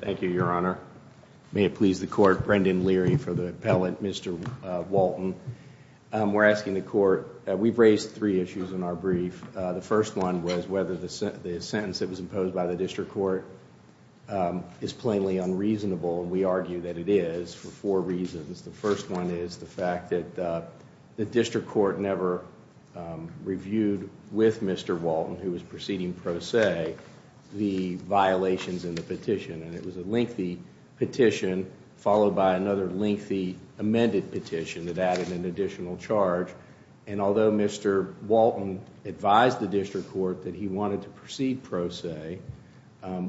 Thank you, Your Honor. May it please the court, Brendan Leary for the appellate, Mr. Walton. We're asking the court, we've raised three issues in our brief. The first one was whether the sentence that was imposed by the district court is plainly unreasonable. We argue that it is for four reasons. The first one is the fact that the district court never reviewed with Mr. Walton, who was proceeding pro se, the violations in the petition. It was a lengthy petition followed by another lengthy amended petition that added an additional charge. Although Mr. Walton advised the district court that he wanted to proceed pro se,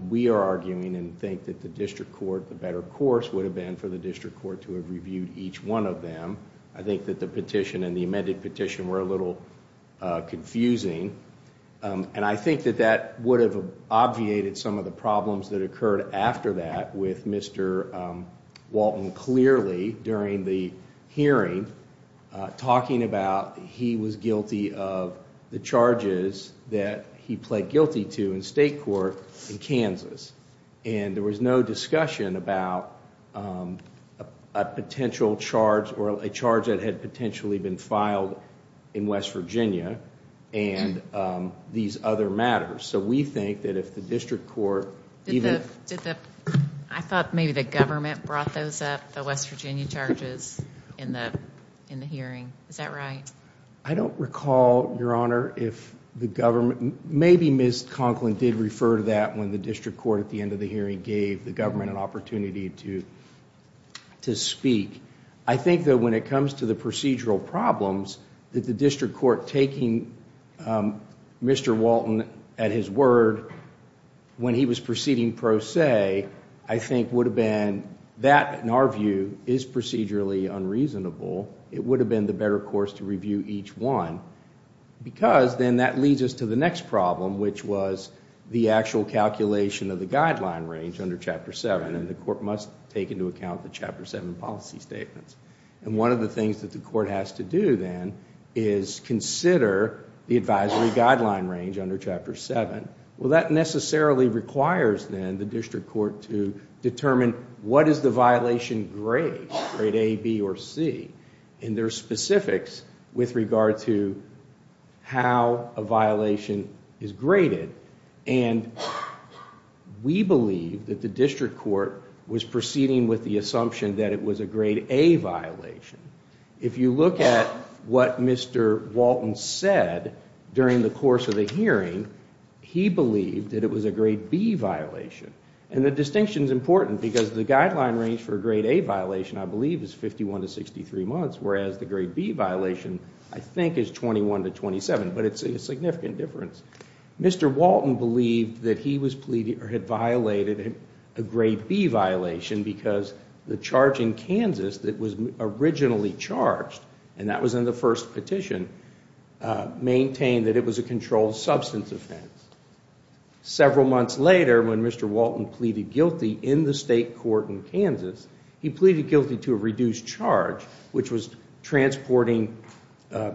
we are arguing and think that the district court, the better course would have been for the district court to have reviewed each one of them. I think that the petition and the amended petition were a little confusing. I think that that would have obviated some of the problems that occurred after that with Mr. Walton clearly during the hearing talking about he was guilty of the charges that he pled guilty to in state court in Kansas. There was no discussion about a potential charge or a charge that had potentially been filed in West Virginia and these other matters. We think that if the district court... I thought maybe the government brought those up, the West Virginia charges in the hearing. Is that right? I don't recall, Your Honor, if the government... Maybe Ms. Conklin did refer to that when the district court at the end of the hearing gave the government an opportunity to speak. I think that when it comes to the procedural problems that the district court taking Mr. Walton at his word when he was proceeding pro se, I think would have been... That, in our view, is procedurally unreasonable. It would have been the better course to review each one because then that leads us to the next problem which was the actual calculation of the guideline range under Chapter 7 and the court must take into account the Chapter 7 policy statements. One of the things that the court has to do then is consider the advisory guideline range under Chapter 7. That necessarily requires then the district court to determine what is the violation grade, grade A, B, or C, and their specifics with regard to how a violation is graded. We believe that the district court was proceeding with the assumption that it was a grade A violation. If you look at what Mr. Walton said during the course of the hearing, he believed that it was a grade B violation. The distinction is important because the guideline range for a grade A violation, I believe, is 51 to 63 months, whereas the grade B violation, I think, is 21 to 27, but it's a significant difference. Mr. Walton believed that he had violated a grade B violation because the charge in Kansas that was originally charged, and that was in the first petition, maintained that it was a controlled substance offense. Several months later, when Mr. Walton pleaded guilty in the state court in Kansas, he pleaded guilty to a reduced charge, which was transporting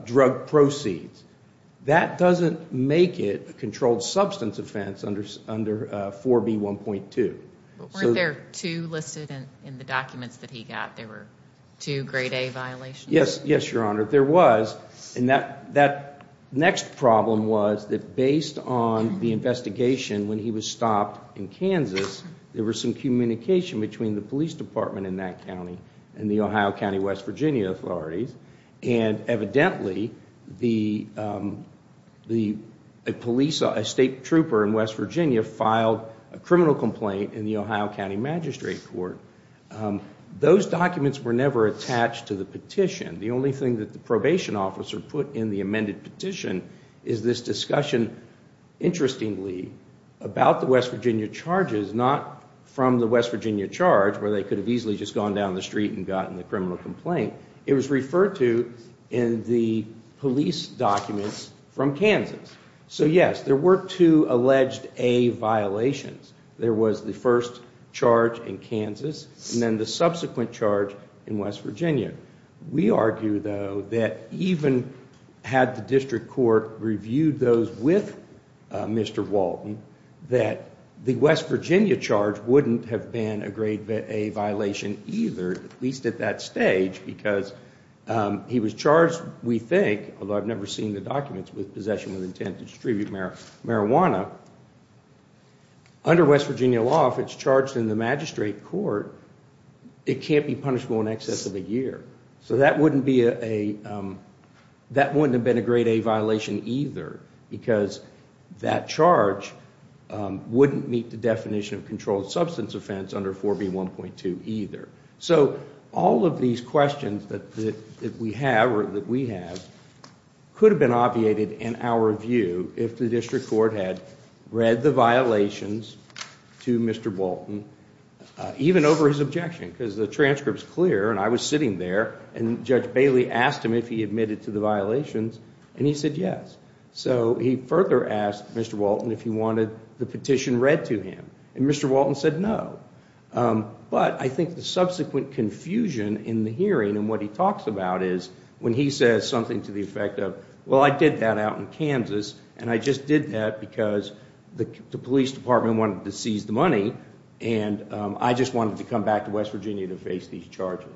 drug proceeds. That doesn't make it a controlled substance offense under 4B1.2. Weren't there two listed in the documents that he got? There were two grade A violations? Yes, Your Honor, there was. That next problem was that based on the investigation when he was stopped in Kansas, there was some communication between the police department in that county and the Ohio County West Virginia authorities. Evidently, a state trooper in West Virginia filed a criminal complaint in the Ohio County Magistrate Court. Those documents were never attached to the petition. The only thing that the probation officer put in the amended petition is this discussion, interestingly, about the West Virginia charges, not from the West Virginia charge, where they could have easily just gone down the street and gotten the criminal complaint. It was referred to in the police documents from Kansas. So, yes, there were two alleged A violations. There was the first charge in Kansas and then the subsequent charge in West Virginia. We argue, though, that even had the district court reviewed those with Mr. Walton, that the West Virginia charge wouldn't have been a grade A violation either, at least at that stage, because he was charged, we think, although I've never seen the documents, with possession with intent to distribute marijuana. Under West Virginia law, if it's charged in the magistrate court, it can't be punishable in excess of a year. So that wouldn't have been a grade A violation either, because that charge wouldn't meet the definition of controlled substance offense under 4B1.2 either. So all of these questions that we have, or that we have, could have been obviated in our view if the district court had read the violations to Mr. Walton, even over his objection, because the transcript's clear, and I was sitting there, and Judge Bailey asked him if he admitted to the violations, and he said yes. So he further asked Mr. Walton if he wanted the petition read to him, and Mr. Walton said no. But I think the subsequent confusion in the hearing and what he talks about is when he says something to the effect of, well, I did that out in Kansas, and I just did that because the police department wanted to seize the money, and I just wanted to come back to West Virginia to face these charges.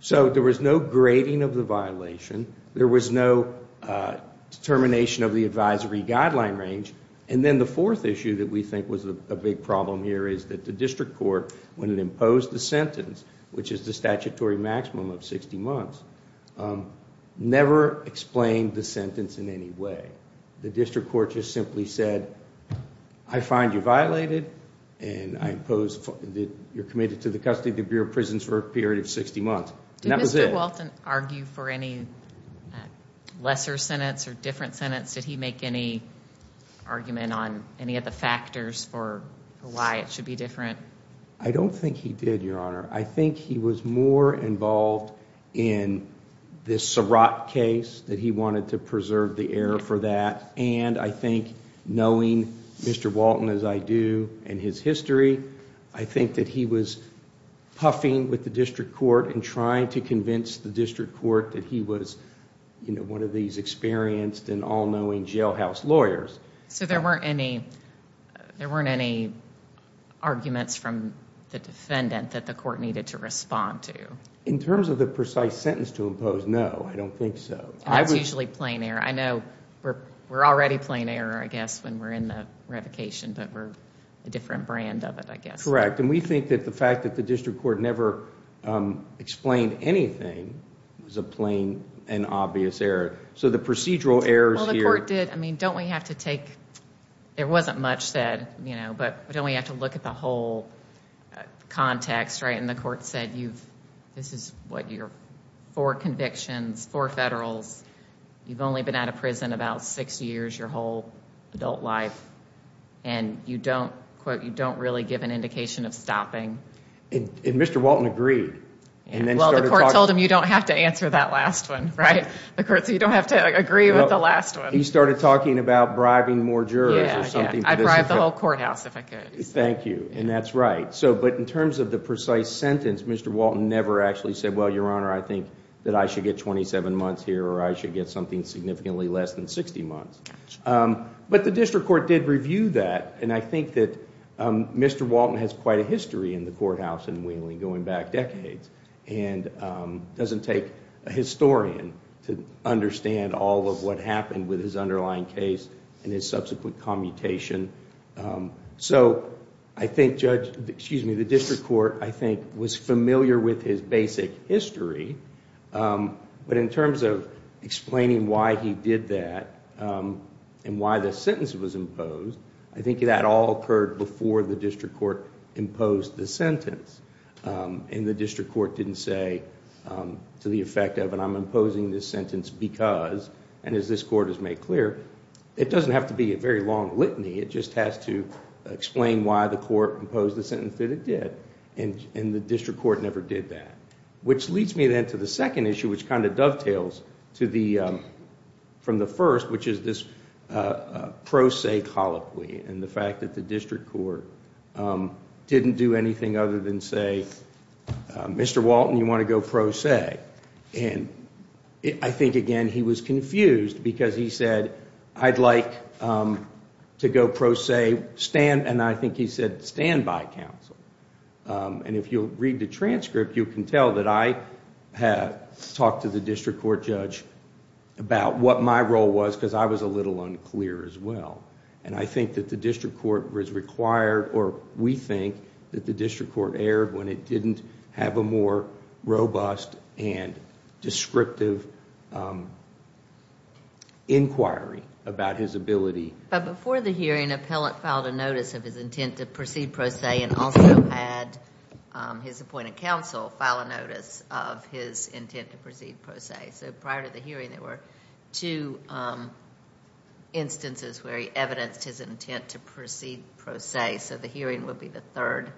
So there was no grading of the violation. There was no determination of the advisory guideline range. And then the fourth issue that we think was a big problem here is that the district court, when it imposed the sentence, which is the statutory maximum of 60 months, never explained the sentence in any way. The district court just simply said, I find you violated, and I impose that you're committed to the custody of the Bureau of Prisons for a period of 60 months. And that was it. Did Mr. Walton argue for any lesser sentence or different sentence? Did he make any argument on any of the factors for why it should be different? I don't think he did, Your Honor. I think he was more involved in this Surratt case, that he wanted to preserve the air for that, and I think knowing Mr. Walton, as I do, and his history, I think that he was puffing with the district court and trying to convince the district court that he was one of these experienced and all-knowing jailhouse lawyers. So there weren't any arguments from the defendant that the court needed to respond to? In terms of the precise sentence to impose, no, I don't think so. That's usually plain error. I know we're already plain error, I guess, when we're in the revocation, but we're a different brand of it, I guess. Correct. And we think that the fact that the district court never explained anything was a plain and obvious error. So the procedural errors here... Well, the court did. I mean, don't we have to take... There wasn't much said, you know, but don't we have to look at the whole context, right? And the court said, this is what your four convictions, four federals, you've only been out of prison about six years, your whole adult life, and you don't, quote, you don't really give an indication of stopping. And Mr. Walton agreed. Well, the court told him you don't have to answer that last one, right? The court said you don't have to agree with the last one. He started talking about bribing more jurors or something. I'd bribe the whole courthouse if I could. Thank you. And that's right. But in terms of the precise sentence, Mr. Walton never actually said, well, Your Honor, I think that I should get 27 months here or I should get something significantly less than 60 months. But the district court did review that, and I think that Mr. Walton has quite a history in the courthouse in Wheeling going back decades and doesn't take a historian to understand all of what happened with his underlying case and his subsequent commutation. So I think the district court, I think, was familiar with his basic history. But in terms of explaining why he did that and why the sentence was imposed, I think that all occurred before the district court imposed the sentence. And the district court didn't say to the effect of, and I'm imposing this sentence because, and as this court has made clear, it doesn't have to be a very long litany. It just has to explain why the court imposed the sentence that it did. And the district court never did that. Which leads me then to the second issue, which kind of dovetails from the first, which is this pro se colloquy and the fact that the district court didn't do anything other than say, Mr. Walton, you want to go pro se. And I think, again, he was confused because he said, I'd like to go pro se. And I think he said, stand by, counsel. And if you'll read the transcript, you can tell that I have talked to the district court judge about what my role was because I was a little unclear as well. And I think that the district court was required, or we think, that the district court erred when it didn't have a more robust and descriptive inquiry about his ability. But before the hearing, appellant filed a notice of his intent to proceed pro se and also had his appointed counsel file a notice of his intent to proceed pro se. So prior to the hearing, there were two instances where he evidenced his intent to proceed pro se. So the hearing would be the third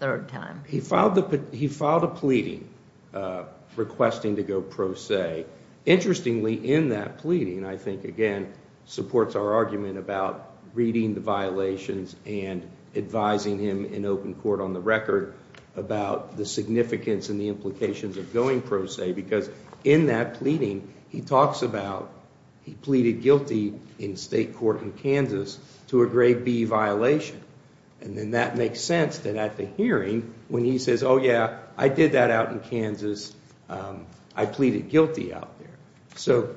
time. He filed a pleading requesting to go pro se. Interestingly, in that pleading, I think, again, supports our argument about reading the violations and advising him in open court on the record about the significance and the implications of going pro se because in that pleading, he talks about he pleaded guilty in state court in Kansas to a grade B violation. And then that makes sense that at the hearing when he says, oh, yeah, I did that out in Kansas. I pleaded guilty out there. So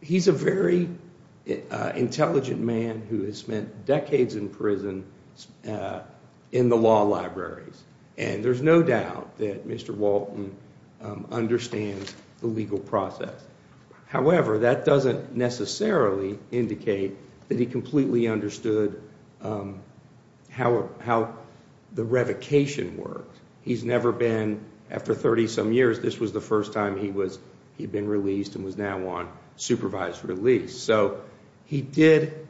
he's a very intelligent man who has spent decades in prison in the law libraries. And there's no doubt that Mr. Walton understands the legal process. However, that doesn't necessarily indicate that he completely understood how the revocation works. He's never been, after 30 some years, this was the first time he'd been released and was now on supervised release. So he did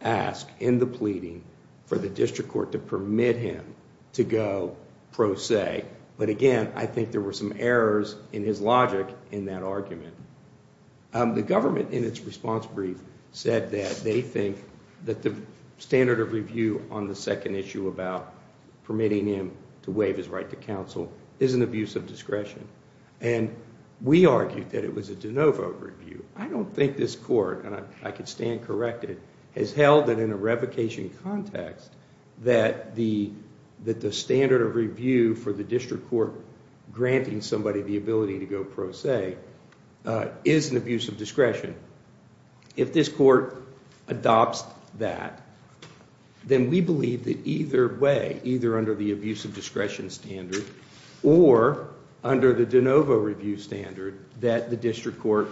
ask in the pleading for the district court to permit him to go pro se. But again, I think there were some errors in his logic in that argument. The government in its response brief said that they think that the standard of review on the second issue about permitting him to waive his right to counsel is an abuse of discretion. And we argued that it was a de novo review. I don't think this court, and I can stand corrected, has held that in a revocation context that the standard of review for the district court granting somebody the ability to go pro se is an abuse of discretion. If this court adopts that, then we believe that either way, either under the abuse of discretion standard or under the de novo review standard, that the district court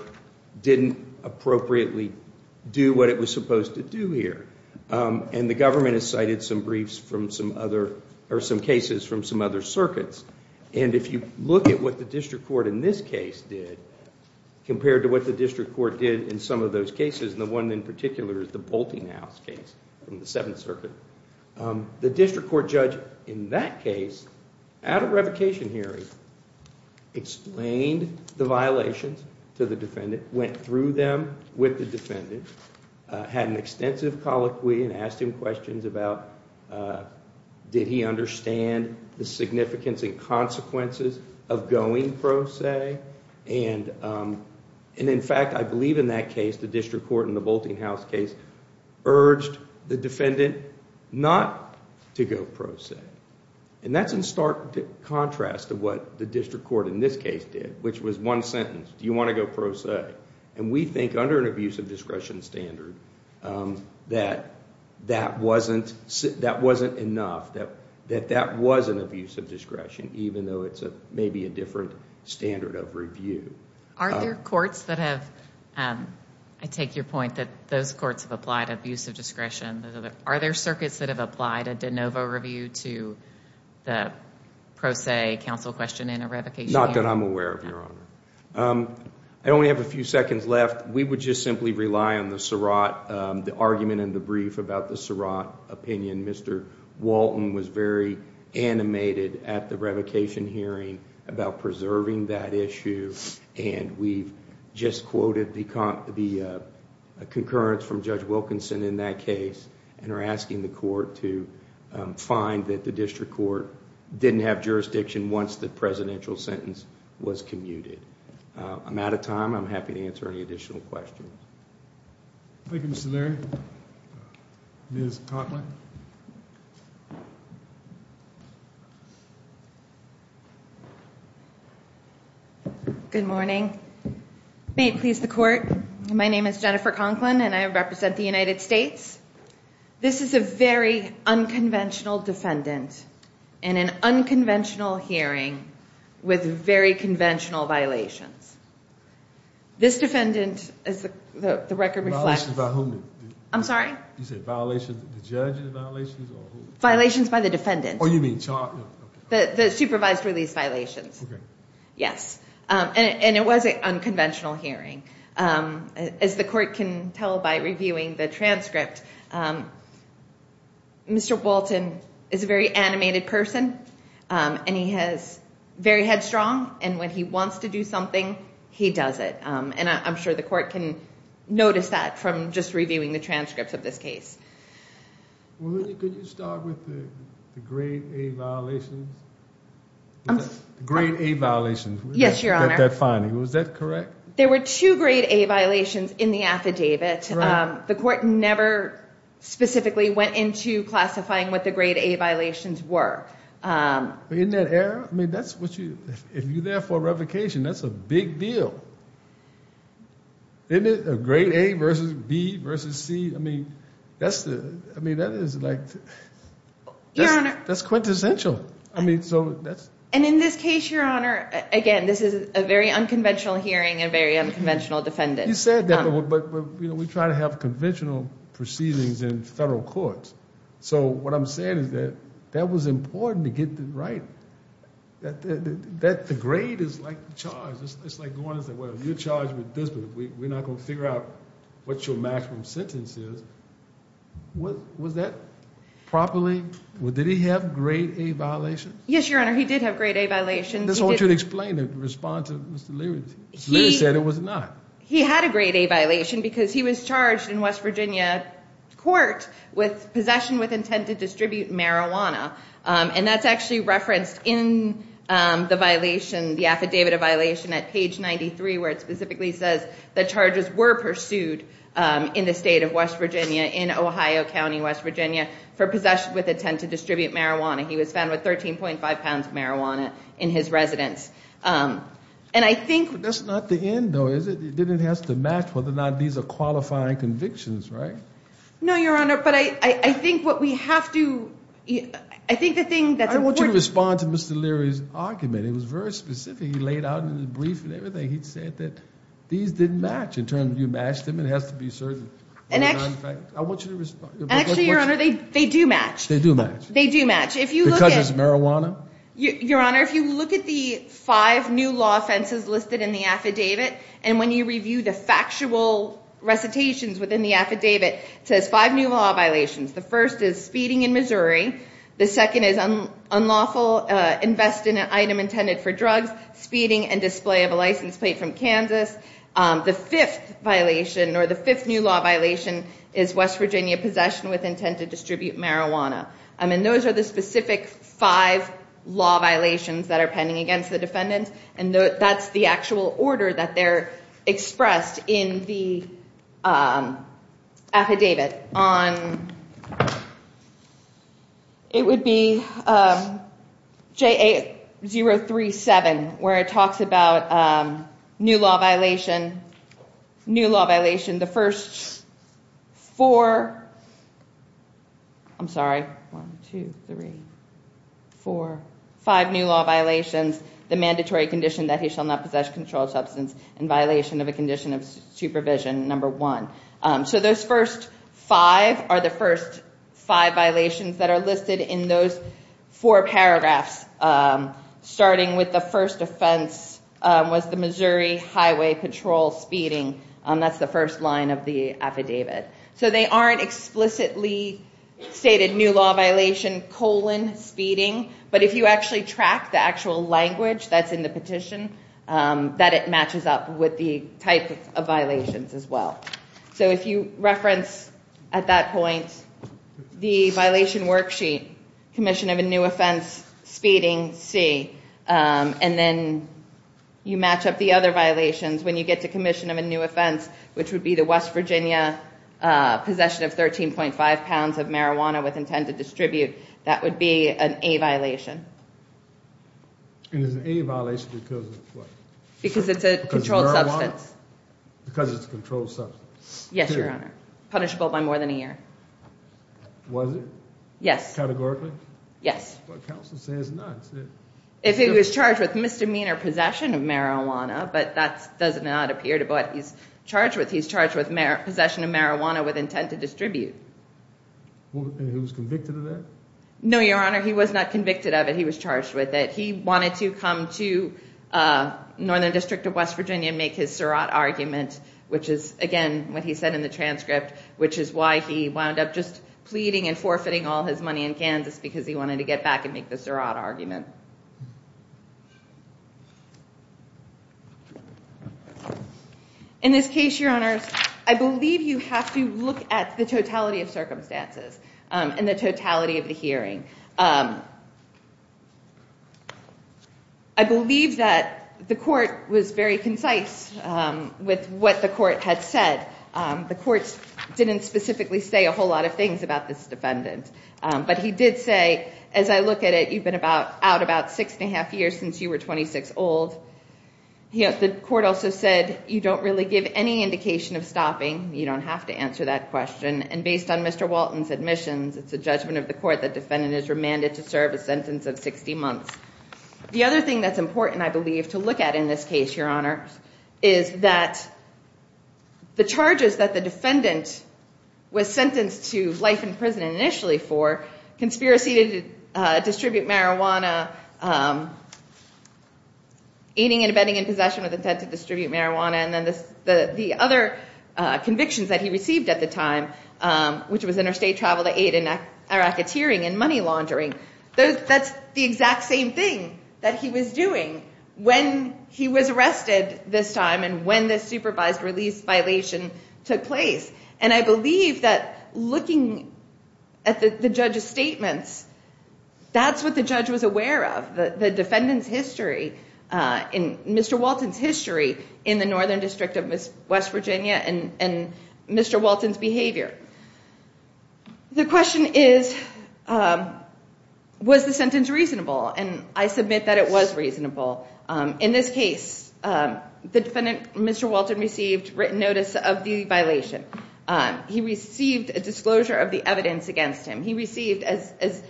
didn't appropriately do what it was supposed to do here. And the government has cited some briefs from some other, or some cases from some other circuits. And if you look at what the district court in this case did, compared to what the district court did in some of those cases, and the one in particular is the Bolting House case from the Seventh Circuit, the district court judge in that case, at a revocation hearing, explained the violations to the defendant, went through them with the defendant, had an extensive colloquy and asked him questions about did he understand the significance and consequences of going pro se. And in fact, I believe in that case, the district court in the Bolting House case urged the defendant not to go pro se. And that's in stark contrast to what the district court in this case did, which was one sentence, do you want to go pro se. And we think under an abuse of discretion standard that that wasn't enough, that that was an abuse of discretion, even though it's maybe a different standard of review. Aren't there courts that have, I take your point that those courts have applied abuse of discretion. Are there circuits that have applied a de novo review to the pro se counsel question in a revocation hearing? Not that I'm aware of, Your Honor. I only have a few seconds left. We would just simply rely on the Surratt, the argument in the brief about the Surratt opinion. Mr. Walton was very animated at the revocation hearing about preserving that issue. And we've just quoted the concurrence from Judge Wilkinson in that case and are asking the court to find that the district court didn't have jurisdiction once the presidential sentence was commuted. I'm out of time. I'm happy to answer any additional questions. Thank you, Mr. Leary. Ms. Conklin. Good morning. May it please the court, my name is Jennifer Conklin and I represent the United States. This is a very unconventional defendant in an unconventional hearing with very conventional violations. This defendant, as the record reflects. Violations by whom? I'm sorry? You said violations, the judge's violations or who? Violations by the defendant. Oh, you mean charge, okay. The supervised release violations. Okay. Yes. And it was an unconventional hearing. As the court can tell by reviewing the transcript, Mr. Walton is a very animated person. And he has very headstrong and when he wants to do something, he does it. And I'm sure the court can notice that from just reviewing the transcripts of this case. Well, could you start with the grade A violations? Grade A violations. Yes, your honor. Was that correct? There were two grade A violations in the affidavit. The court never specifically went into classifying what the grade A violations were. In that era? I mean, that's what you, if you're there for a revocation, that's a big deal. Isn't it? A grade A versus B versus C. I mean, that's the, I mean, that is like. Your honor. That's quintessential. I mean, so that's. And in this case, your honor, again, this is a very unconventional hearing and a very unconventional defendant. You said that, but we try to have conventional proceedings in federal courts. So what I'm saying is that that was important to get it right. That the grade is like the charge. It's like going and saying, well, you're charged with this, but we're not going to figure out what your maximum sentence is. Was that properly, did he have grade A violations? Yes, your honor. He did have grade A violations. I just want you to explain and respond to Mr. Leary. Leary said it was not. He had a grade A violation because he was charged in West Virginia court with possession with intent to distribute marijuana. And that's actually referenced in the violation, the affidavit of violation at page 93, where it specifically says that charges were pursued in the state of West Virginia, in Ohio County, West Virginia, for possession with intent to distribute marijuana. He was found with 13.5 pounds of marijuana in his residence. And I think. That's not the end, though, is it? Then it has to match whether or not these are qualifying convictions, right? No, your honor. But I think what we have to, I think the thing that's important. I want you to respond to Mr. Leary's argument. It was very specific. He laid out in his brief and everything. He said that these didn't match. In terms of you matched them, it has to be certain. And actually. I want you to respond. Actually, your honor, they do match. They do match. They do match. Because it's marijuana? Your honor, if you look at the five new law offenses listed in the affidavit, and when you review the factual recitations within the affidavit, it says five new law violations. The first is speeding in Missouri. The second is unlawful invest in an item intended for drugs, speeding, and display of a license plate from Kansas. The fifth violation, or the fifth new law violation, is West Virginia possession with intent to distribute marijuana. And those are the specific five law violations that are pending against the defendant. And that's the actual order that they're expressed in the affidavit. It would be JA037, where it talks about new law violation. New law violation. The first four. I'm sorry. One, two, three, four, five new law violations. The mandatory condition that he shall not possess controlled substance in violation of a condition of supervision, number one. So those first five are the first five violations that are listed in those four paragraphs. Starting with the first offense was the Missouri Highway Patrol speeding. That's the first line of the affidavit. So they aren't explicitly stated new law violation, colon, speeding. But if you actually track the actual language that's in the petition, that it matches up with the type of violations as well. So if you reference at that point the violation worksheet, commission of a new offense, speeding, C, and then you match up the other violations when you get to commission of a new offense, which would be the West Virginia possession of 13.5 pounds of marijuana with intent to distribute, that would be an A violation. And it's an A violation because of what? Because it's a controlled substance. Because it's a controlled substance. Yes, Your Honor. Punishable by more than a year. Was it? Yes. Categorically? Yes. But counsel says not. If he was charged with misdemeanor possession of marijuana, but that does not appear to be what he's charged with. He's charged with possession of marijuana with intent to distribute. And he was convicted of that? No, Your Honor. He was not convicted of it. He was charged with it. He wanted to come to Northern District of West Virginia and make his Surratt argument, which is, again, what he said in the transcript, which is why he wound up just pleading and forfeiting all his money in Kansas because he wanted to get back and make the Surratt argument. In this case, Your Honors, I believe you have to look at the totality of circumstances and the totality of the hearing. I believe that the court was very concise with what the court had said. The court didn't specifically say a whole lot of things about this defendant. But he did say, as I look at it, you've been about out of court. You've been out about six and a half years since you were 26 old. The court also said you don't really give any indication of stopping. You don't have to answer that question. And based on Mr. Walton's admissions, it's the judgment of the court that the defendant is remanded to serve a sentence of 60 months. The other thing that's important, I believe, to look at in this case, Your Honor, is that the charges that the defendant was sentenced to life in prison initially for, conspiracy to distribute marijuana, aiding and abetting in possession with intent to distribute marijuana, and then the other convictions that he received at the time, which was interstate travel to aid in racketeering and money laundering. That's the exact same thing that he was doing when he was arrested this time and when this supervised release violation took place. And I believe that looking at the judge's statements, that's what the judge was aware of. The defendant's history and Mr. Walton's history in the Northern District of West Virginia and Mr. Walton's behavior. The question is, was the sentence reasonable? And I submit that it was reasonable. In this case, the defendant, Mr. Walton, received written notice of the violation. He received a disclosure of the evidence against him. He received, as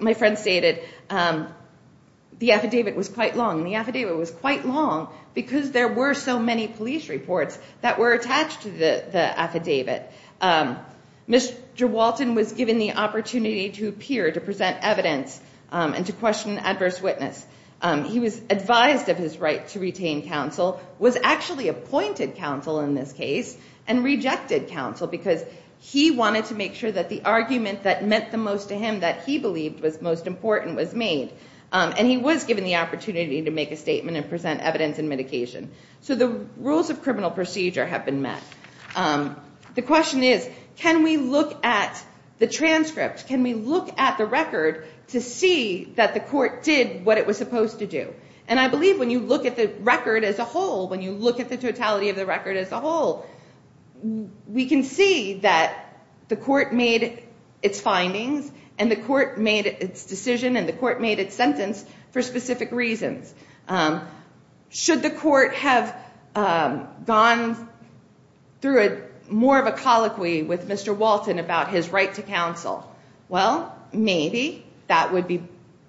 my friend stated, the affidavit was quite long. The affidavit was quite long because there were so many police reports that were attached to the affidavit. Mr. Walton was given the opportunity to appear, to present evidence, and to question an adverse witness. He was advised of his right to retain counsel, was actually appointed counsel in this case, and rejected counsel because he wanted to make sure that the argument that meant the most to him, that he believed was most important, was made. And he was given the opportunity to make a statement and present evidence and medication. So the rules of criminal procedure have been met. The question is, can we look at the transcript, can we look at the record to see that the court did what it was supposed to do? And I believe when you look at the record as a whole, when you look at the totality of the record as a whole, we can see that the court made its findings, and the court made its decision, and the court made its sentence for specific reasons. Should the court have gone through more of a colloquy with Mr. Walton about his right to counsel? Well, maybe. That would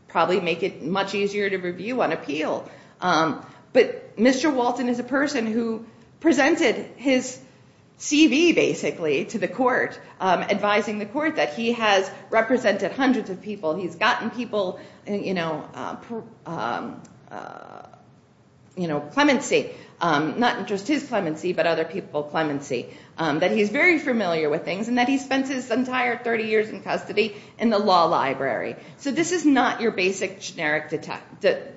probably make it much easier to review on appeal. But Mr. Walton is a person who presented his CV, basically, to the court, advising the court that he has represented hundreds of people, he's gotten people, you know, clemency. Not just his clemency, but other people's clemency. That he's very familiar with things, and that he spent his entire 30 years in custody in the law library. So this is not your basic generic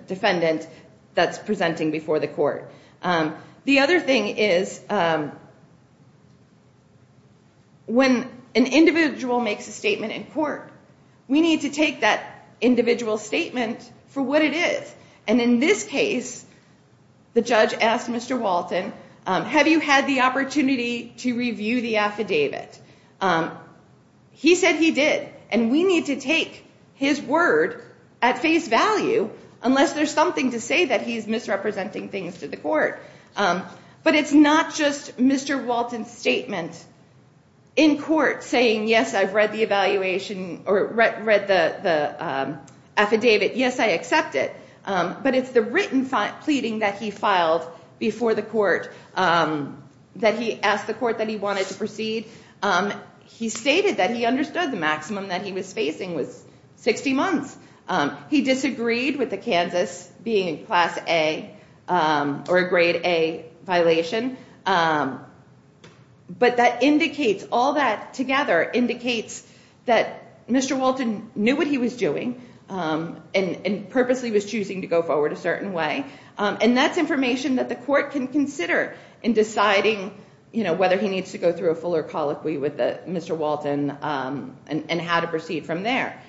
defendant that's presenting before the court. The other thing is, when an individual makes a statement in court, we need to take that individual statement for what it is. And in this case, the judge asked Mr. Walton, have you had the opportunity to review the affidavit? He said he did, and we need to take his word at face value, unless there's something to say that he's misrepresenting things to the court. But it's not just Mr. Walton's statement in court saying, yes, I've read the evaluation, or read the affidavit, yes, I accept it. But it's the written pleading that he filed before the court, that he asked the court that he wanted to proceed. He stated that he understood the maximum that he was facing was 60 months. He disagreed with the Kansas being a Class A, or a Grade A violation. But that indicates, all that together indicates that Mr. Walton knew what he was doing, and purposely was choosing to go forward a certain way. And that's information that the court can consider in deciding whether he needs to go through a fuller colloquy with Mr. Walton, and how to proceed from there.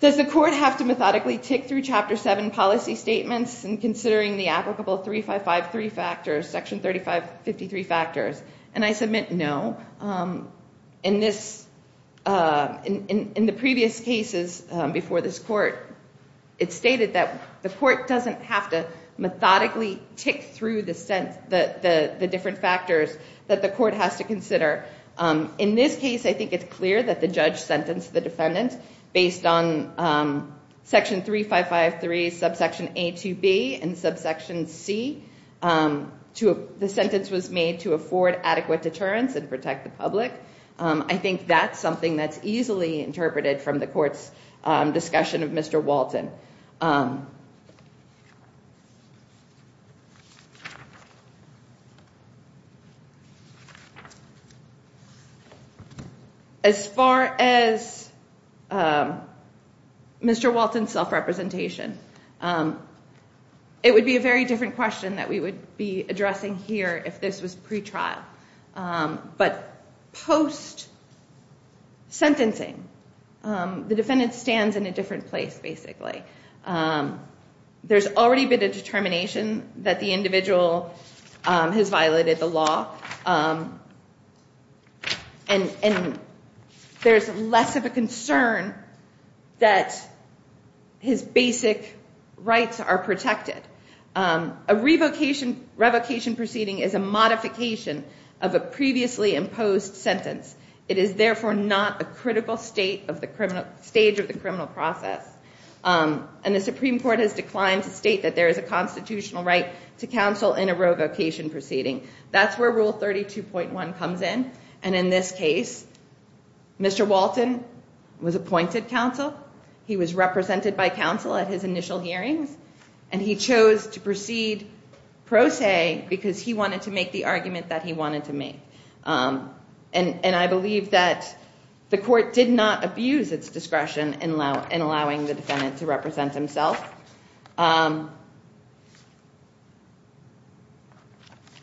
Does the court have to methodically tick through Chapter 7 policy statements in considering the applicable 3553 factors, Section 3553 factors? And I submit no. In the previous cases before this court, it's stated that the court doesn't have to methodically tick through the different factors that the court has to consider. In this case, I think it's clear that the judge sentenced the defendant, based on Section 3553, Subsection A to B, and Subsection C. The sentence was made to afford adequate deterrence and protect the public. I think that's something that's easily interpreted from the court's discussion of Mr. Walton. As far as Mr. Walton's self-representation, it would be a very different question that we would be addressing here if this was pretrial. But post-sentencing, the defendant stands in a different place, basically. There's already been a determination that the individual has violated the law, and there's less of a concern that his basic rights are protected. A revocation proceeding is a modification of a previously imposed sentence. It is therefore not a critical stage of the criminal process. And the Supreme Court has declined to state that there is a constitutional right to counsel in a revocation proceeding. That's where Rule 32.1 comes in. And in this case, Mr. Walton was appointed counsel. He was represented by counsel at his initial hearings. And he chose to proceed pro se because he wanted to make the argument that he wanted to make. And I believe that the court did not abuse its discretion in allowing the defendant to represent himself.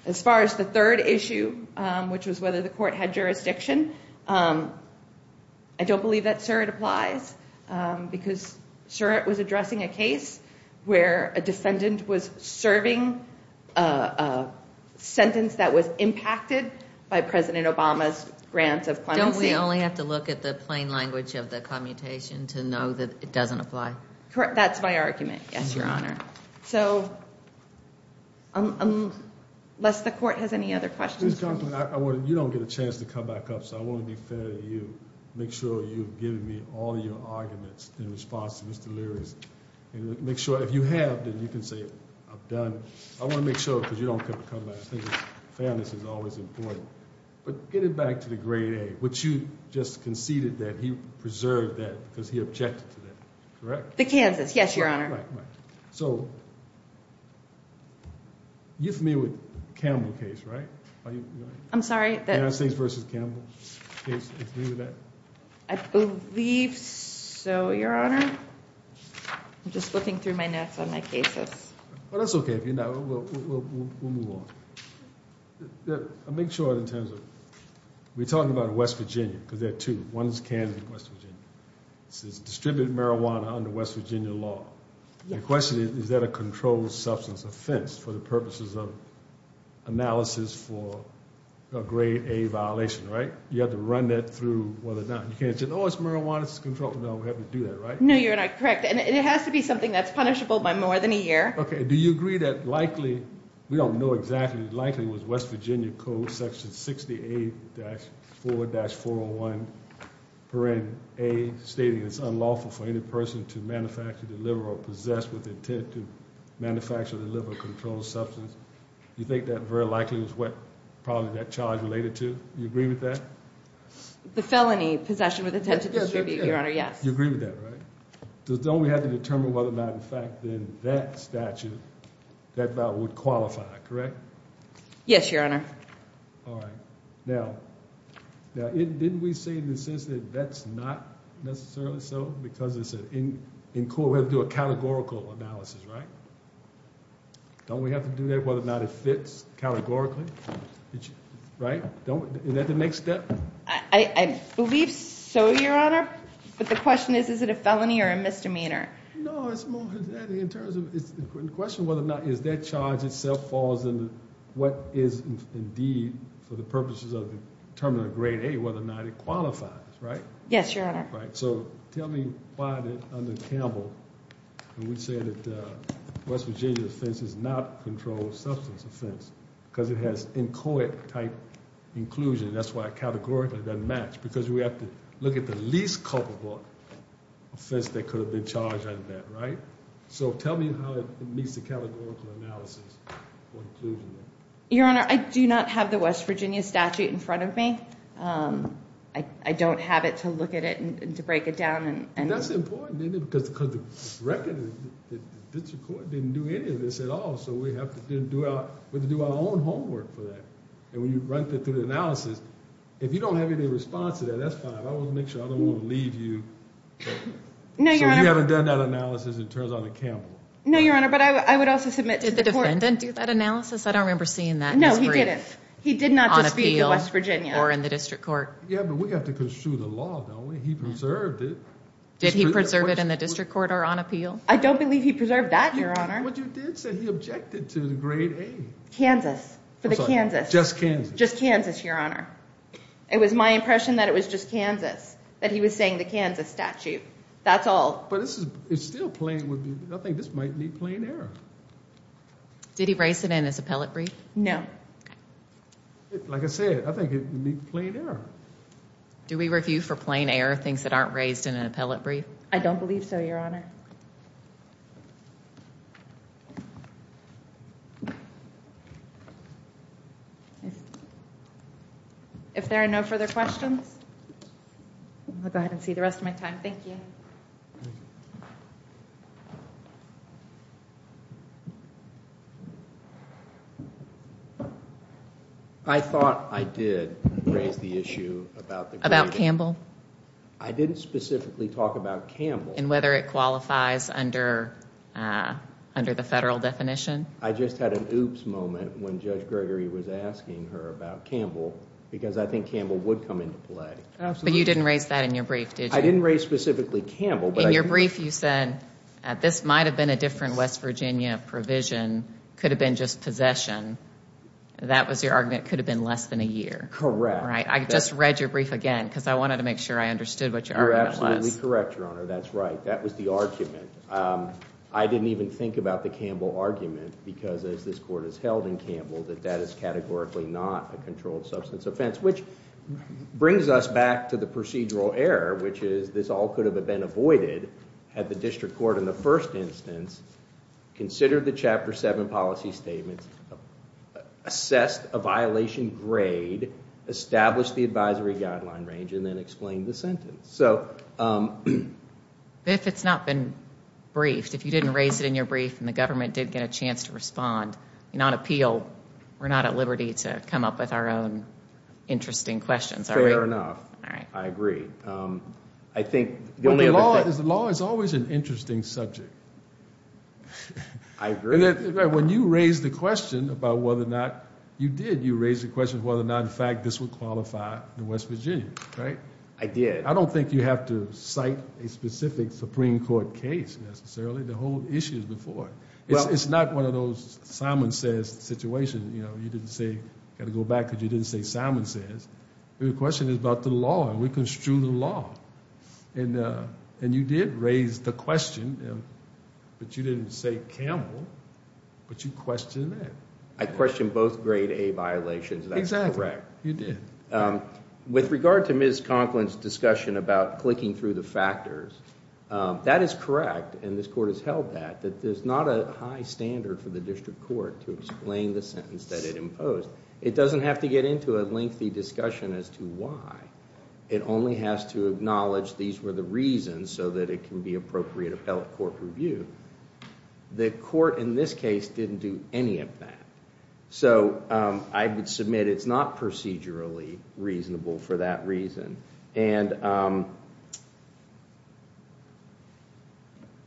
As far as the third issue, which was whether the court had jurisdiction, I don't believe that, sir, it applies because, sir, it was addressing a case where a defendant was serving a sentence that was impacted by President Obama's grants of clemency. Don't we only have to look at the plain language of the commutation to know that it doesn't apply? Correct. That's my argument. Yes, Your Honor. So unless the court has any other questions. Ms. Conklin, you don't get a chance to come back up, so I want to be fair to you. Make sure you've given me all your arguments in response to Mr. Leary's. And make sure, if you have, then you can say I'm done. I want to make sure, because you don't get to come back. I think fairness is always important. But get it back to the grade A, which you just conceded that he preserved that because he objected to that. Correct? The Kansas, yes, Your Honor. Right, right. So you're familiar with the Campbell case, right? I'm sorry? The Kansas v. Campbell case, agree with that? I believe so, Your Honor. I'm just looking through my notes on my cases. Well, that's okay if you're not. We'll move on. I'll make sure in terms of we're talking about West Virginia because there are two. One is Kansas and West Virginia. It says distribute marijuana under West Virginia law. The question is, is that a controlled substance offense for the purposes of analysis for a grade A violation, right? You have to run that through whether or not you can't say, oh, it's marijuana, it's controlled. No, we have to do that, right? No, Your Honor. Correct. And it has to be something that's punishable by more than a year. Okay. Do you agree that likely, we don't know exactly, likely was West Virginia Code Section 68-4-401, wherein A, stating it's unlawful for any person to manufacture, deliver, or possess with intent to manufacture, deliver, or control a substance. Do you think that very likely was what probably that charge related to? Do you agree with that? The felony, possession with intent to distribute, Your Honor, yes. You agree with that, right? Don't we have to determine whether or not, in fact, in that statute, that vial would qualify, correct? Yes, Your Honor. All right. Now, didn't we say in the sense that that's not necessarily so, because in court we have to do a categorical analysis, right? Don't we have to do that, whether or not it fits categorically? Right? Is that the next step? I believe so, Your Honor. But the question is, is it a felony or a misdemeanor? No, it's more in terms of the question whether or not is that charge itself falls into what is indeed, for the purposes of determining grade A, whether or not it qualifies, right? Yes, Your Honor. All right. So tell me why, under Campbell, we say that West Virginia offense is not a controlled substance offense because it has inchoate-type inclusion. That's why it categorically doesn't match because we have to look at the least culpable offense that could have been charged under that, right? So tell me how it meets the categorical analysis for inclusion. Your Honor, I do not have the West Virginia statute in front of me. I don't have it to look at it and to break it down. That's important, isn't it, because the record, the district court didn't do any of this at all, so we have to do our own homework for that. And when you run through the analysis, if you don't have any response to that, that's fine. I want to make sure I don't want to leave you. So you haven't done that analysis, it turns out, at Campbell. No, Your Honor, but I would also submit to the court. Did the defendant do that analysis? I don't remember seeing that. No, he didn't. On appeal or in the district court. Yeah, but we have to construe the law, don't we? He preserved it. Did he preserve it in the district court or on appeal? I don't believe he preserved that, Your Honor. But you did say he objected to the grade A. Kansas, for the Kansas. Just Kansas. Just Kansas, Your Honor. It was my impression that it was just Kansas, that he was saying the Kansas statute. That's all. But it's still plain, I think this might need plain error. Did he raise it in his appellate brief? No. Like I said, I think it would need plain error. Do we review for plain error things that aren't raised in an appellate brief? I don't believe so, Your Honor. If there are no further questions, I'll go ahead and see the rest of my time. Thank you. I thought I did raise the issue about the grade A. I didn't specifically talk about Campbell. And whether it qualifies under the federal definition? I just had an oops moment when Judge Gregory was asking her about Campbell. Because I think Campbell would come into play. But you didn't raise that in your brief, did you? I didn't raise specifically Campbell. In your brief, you said this might have been a different West Virginia provision. It could have been just possession. That was your argument. It could have been less than a year. Correct. I just read your brief again because I wanted to make sure I understood what your argument was. You're absolutely correct, Your Honor. That's right. That was the argument. I didn't even think about the Campbell argument. Because as this court has held in Campbell, that that is categorically not a controlled substance offense. Which brings us back to the procedural error, which is this all could have been avoided had the district court in the first instance considered the Chapter 7 policy statement, assessed a violation grade, established the advisory guideline range, and then explained the sentence. If it's not been briefed, if you didn't raise it in your brief and the government did get a chance to respond and not appeal, we're not at liberty to come up with our own interesting questions. Fair enough. I agree. The law is always an interesting subject. I agree. When you raised the question about whether or not you did, you raised the question of whether or not, in fact, this would qualify the West Virginians, right? I did. I don't think you have to cite a specific Supreme Court case necessarily. The whole issue is before it. It's not one of those Simon says situations. You know, you didn't say, got to go back because you didn't say Simon says. The question is about the law, and we construe the law. And you did raise the question, but you didn't say Campbell, but you questioned that. I questioned both grade A violations. That's correct. You did. With regard to Ms. Conklin's discussion about clicking through the factors, that is correct, and this court has held that, that there's not a high standard for the district court to explain the sentence that it imposed. It doesn't have to get into a lengthy discussion as to why. It only has to acknowledge these were the reasons so that it can be appropriate appellate court review. The court in this case didn't do any of that. So I would submit it's not procedurally reasonable for that reason. And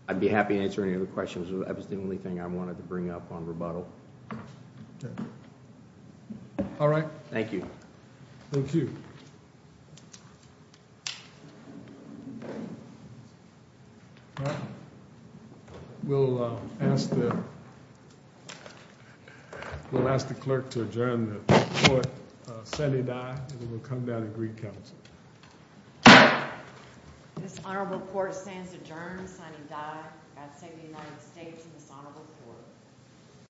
I'd be happy to answer any other questions. That was the only thing I wanted to bring up on rebuttal. All right. Thank you. Thank you. We'll ask the clerk to adjourn the court. Sunny Dye will come down and recount. This honorable court stands adjourned. Sunny Dye. God save the United States and this honorable court.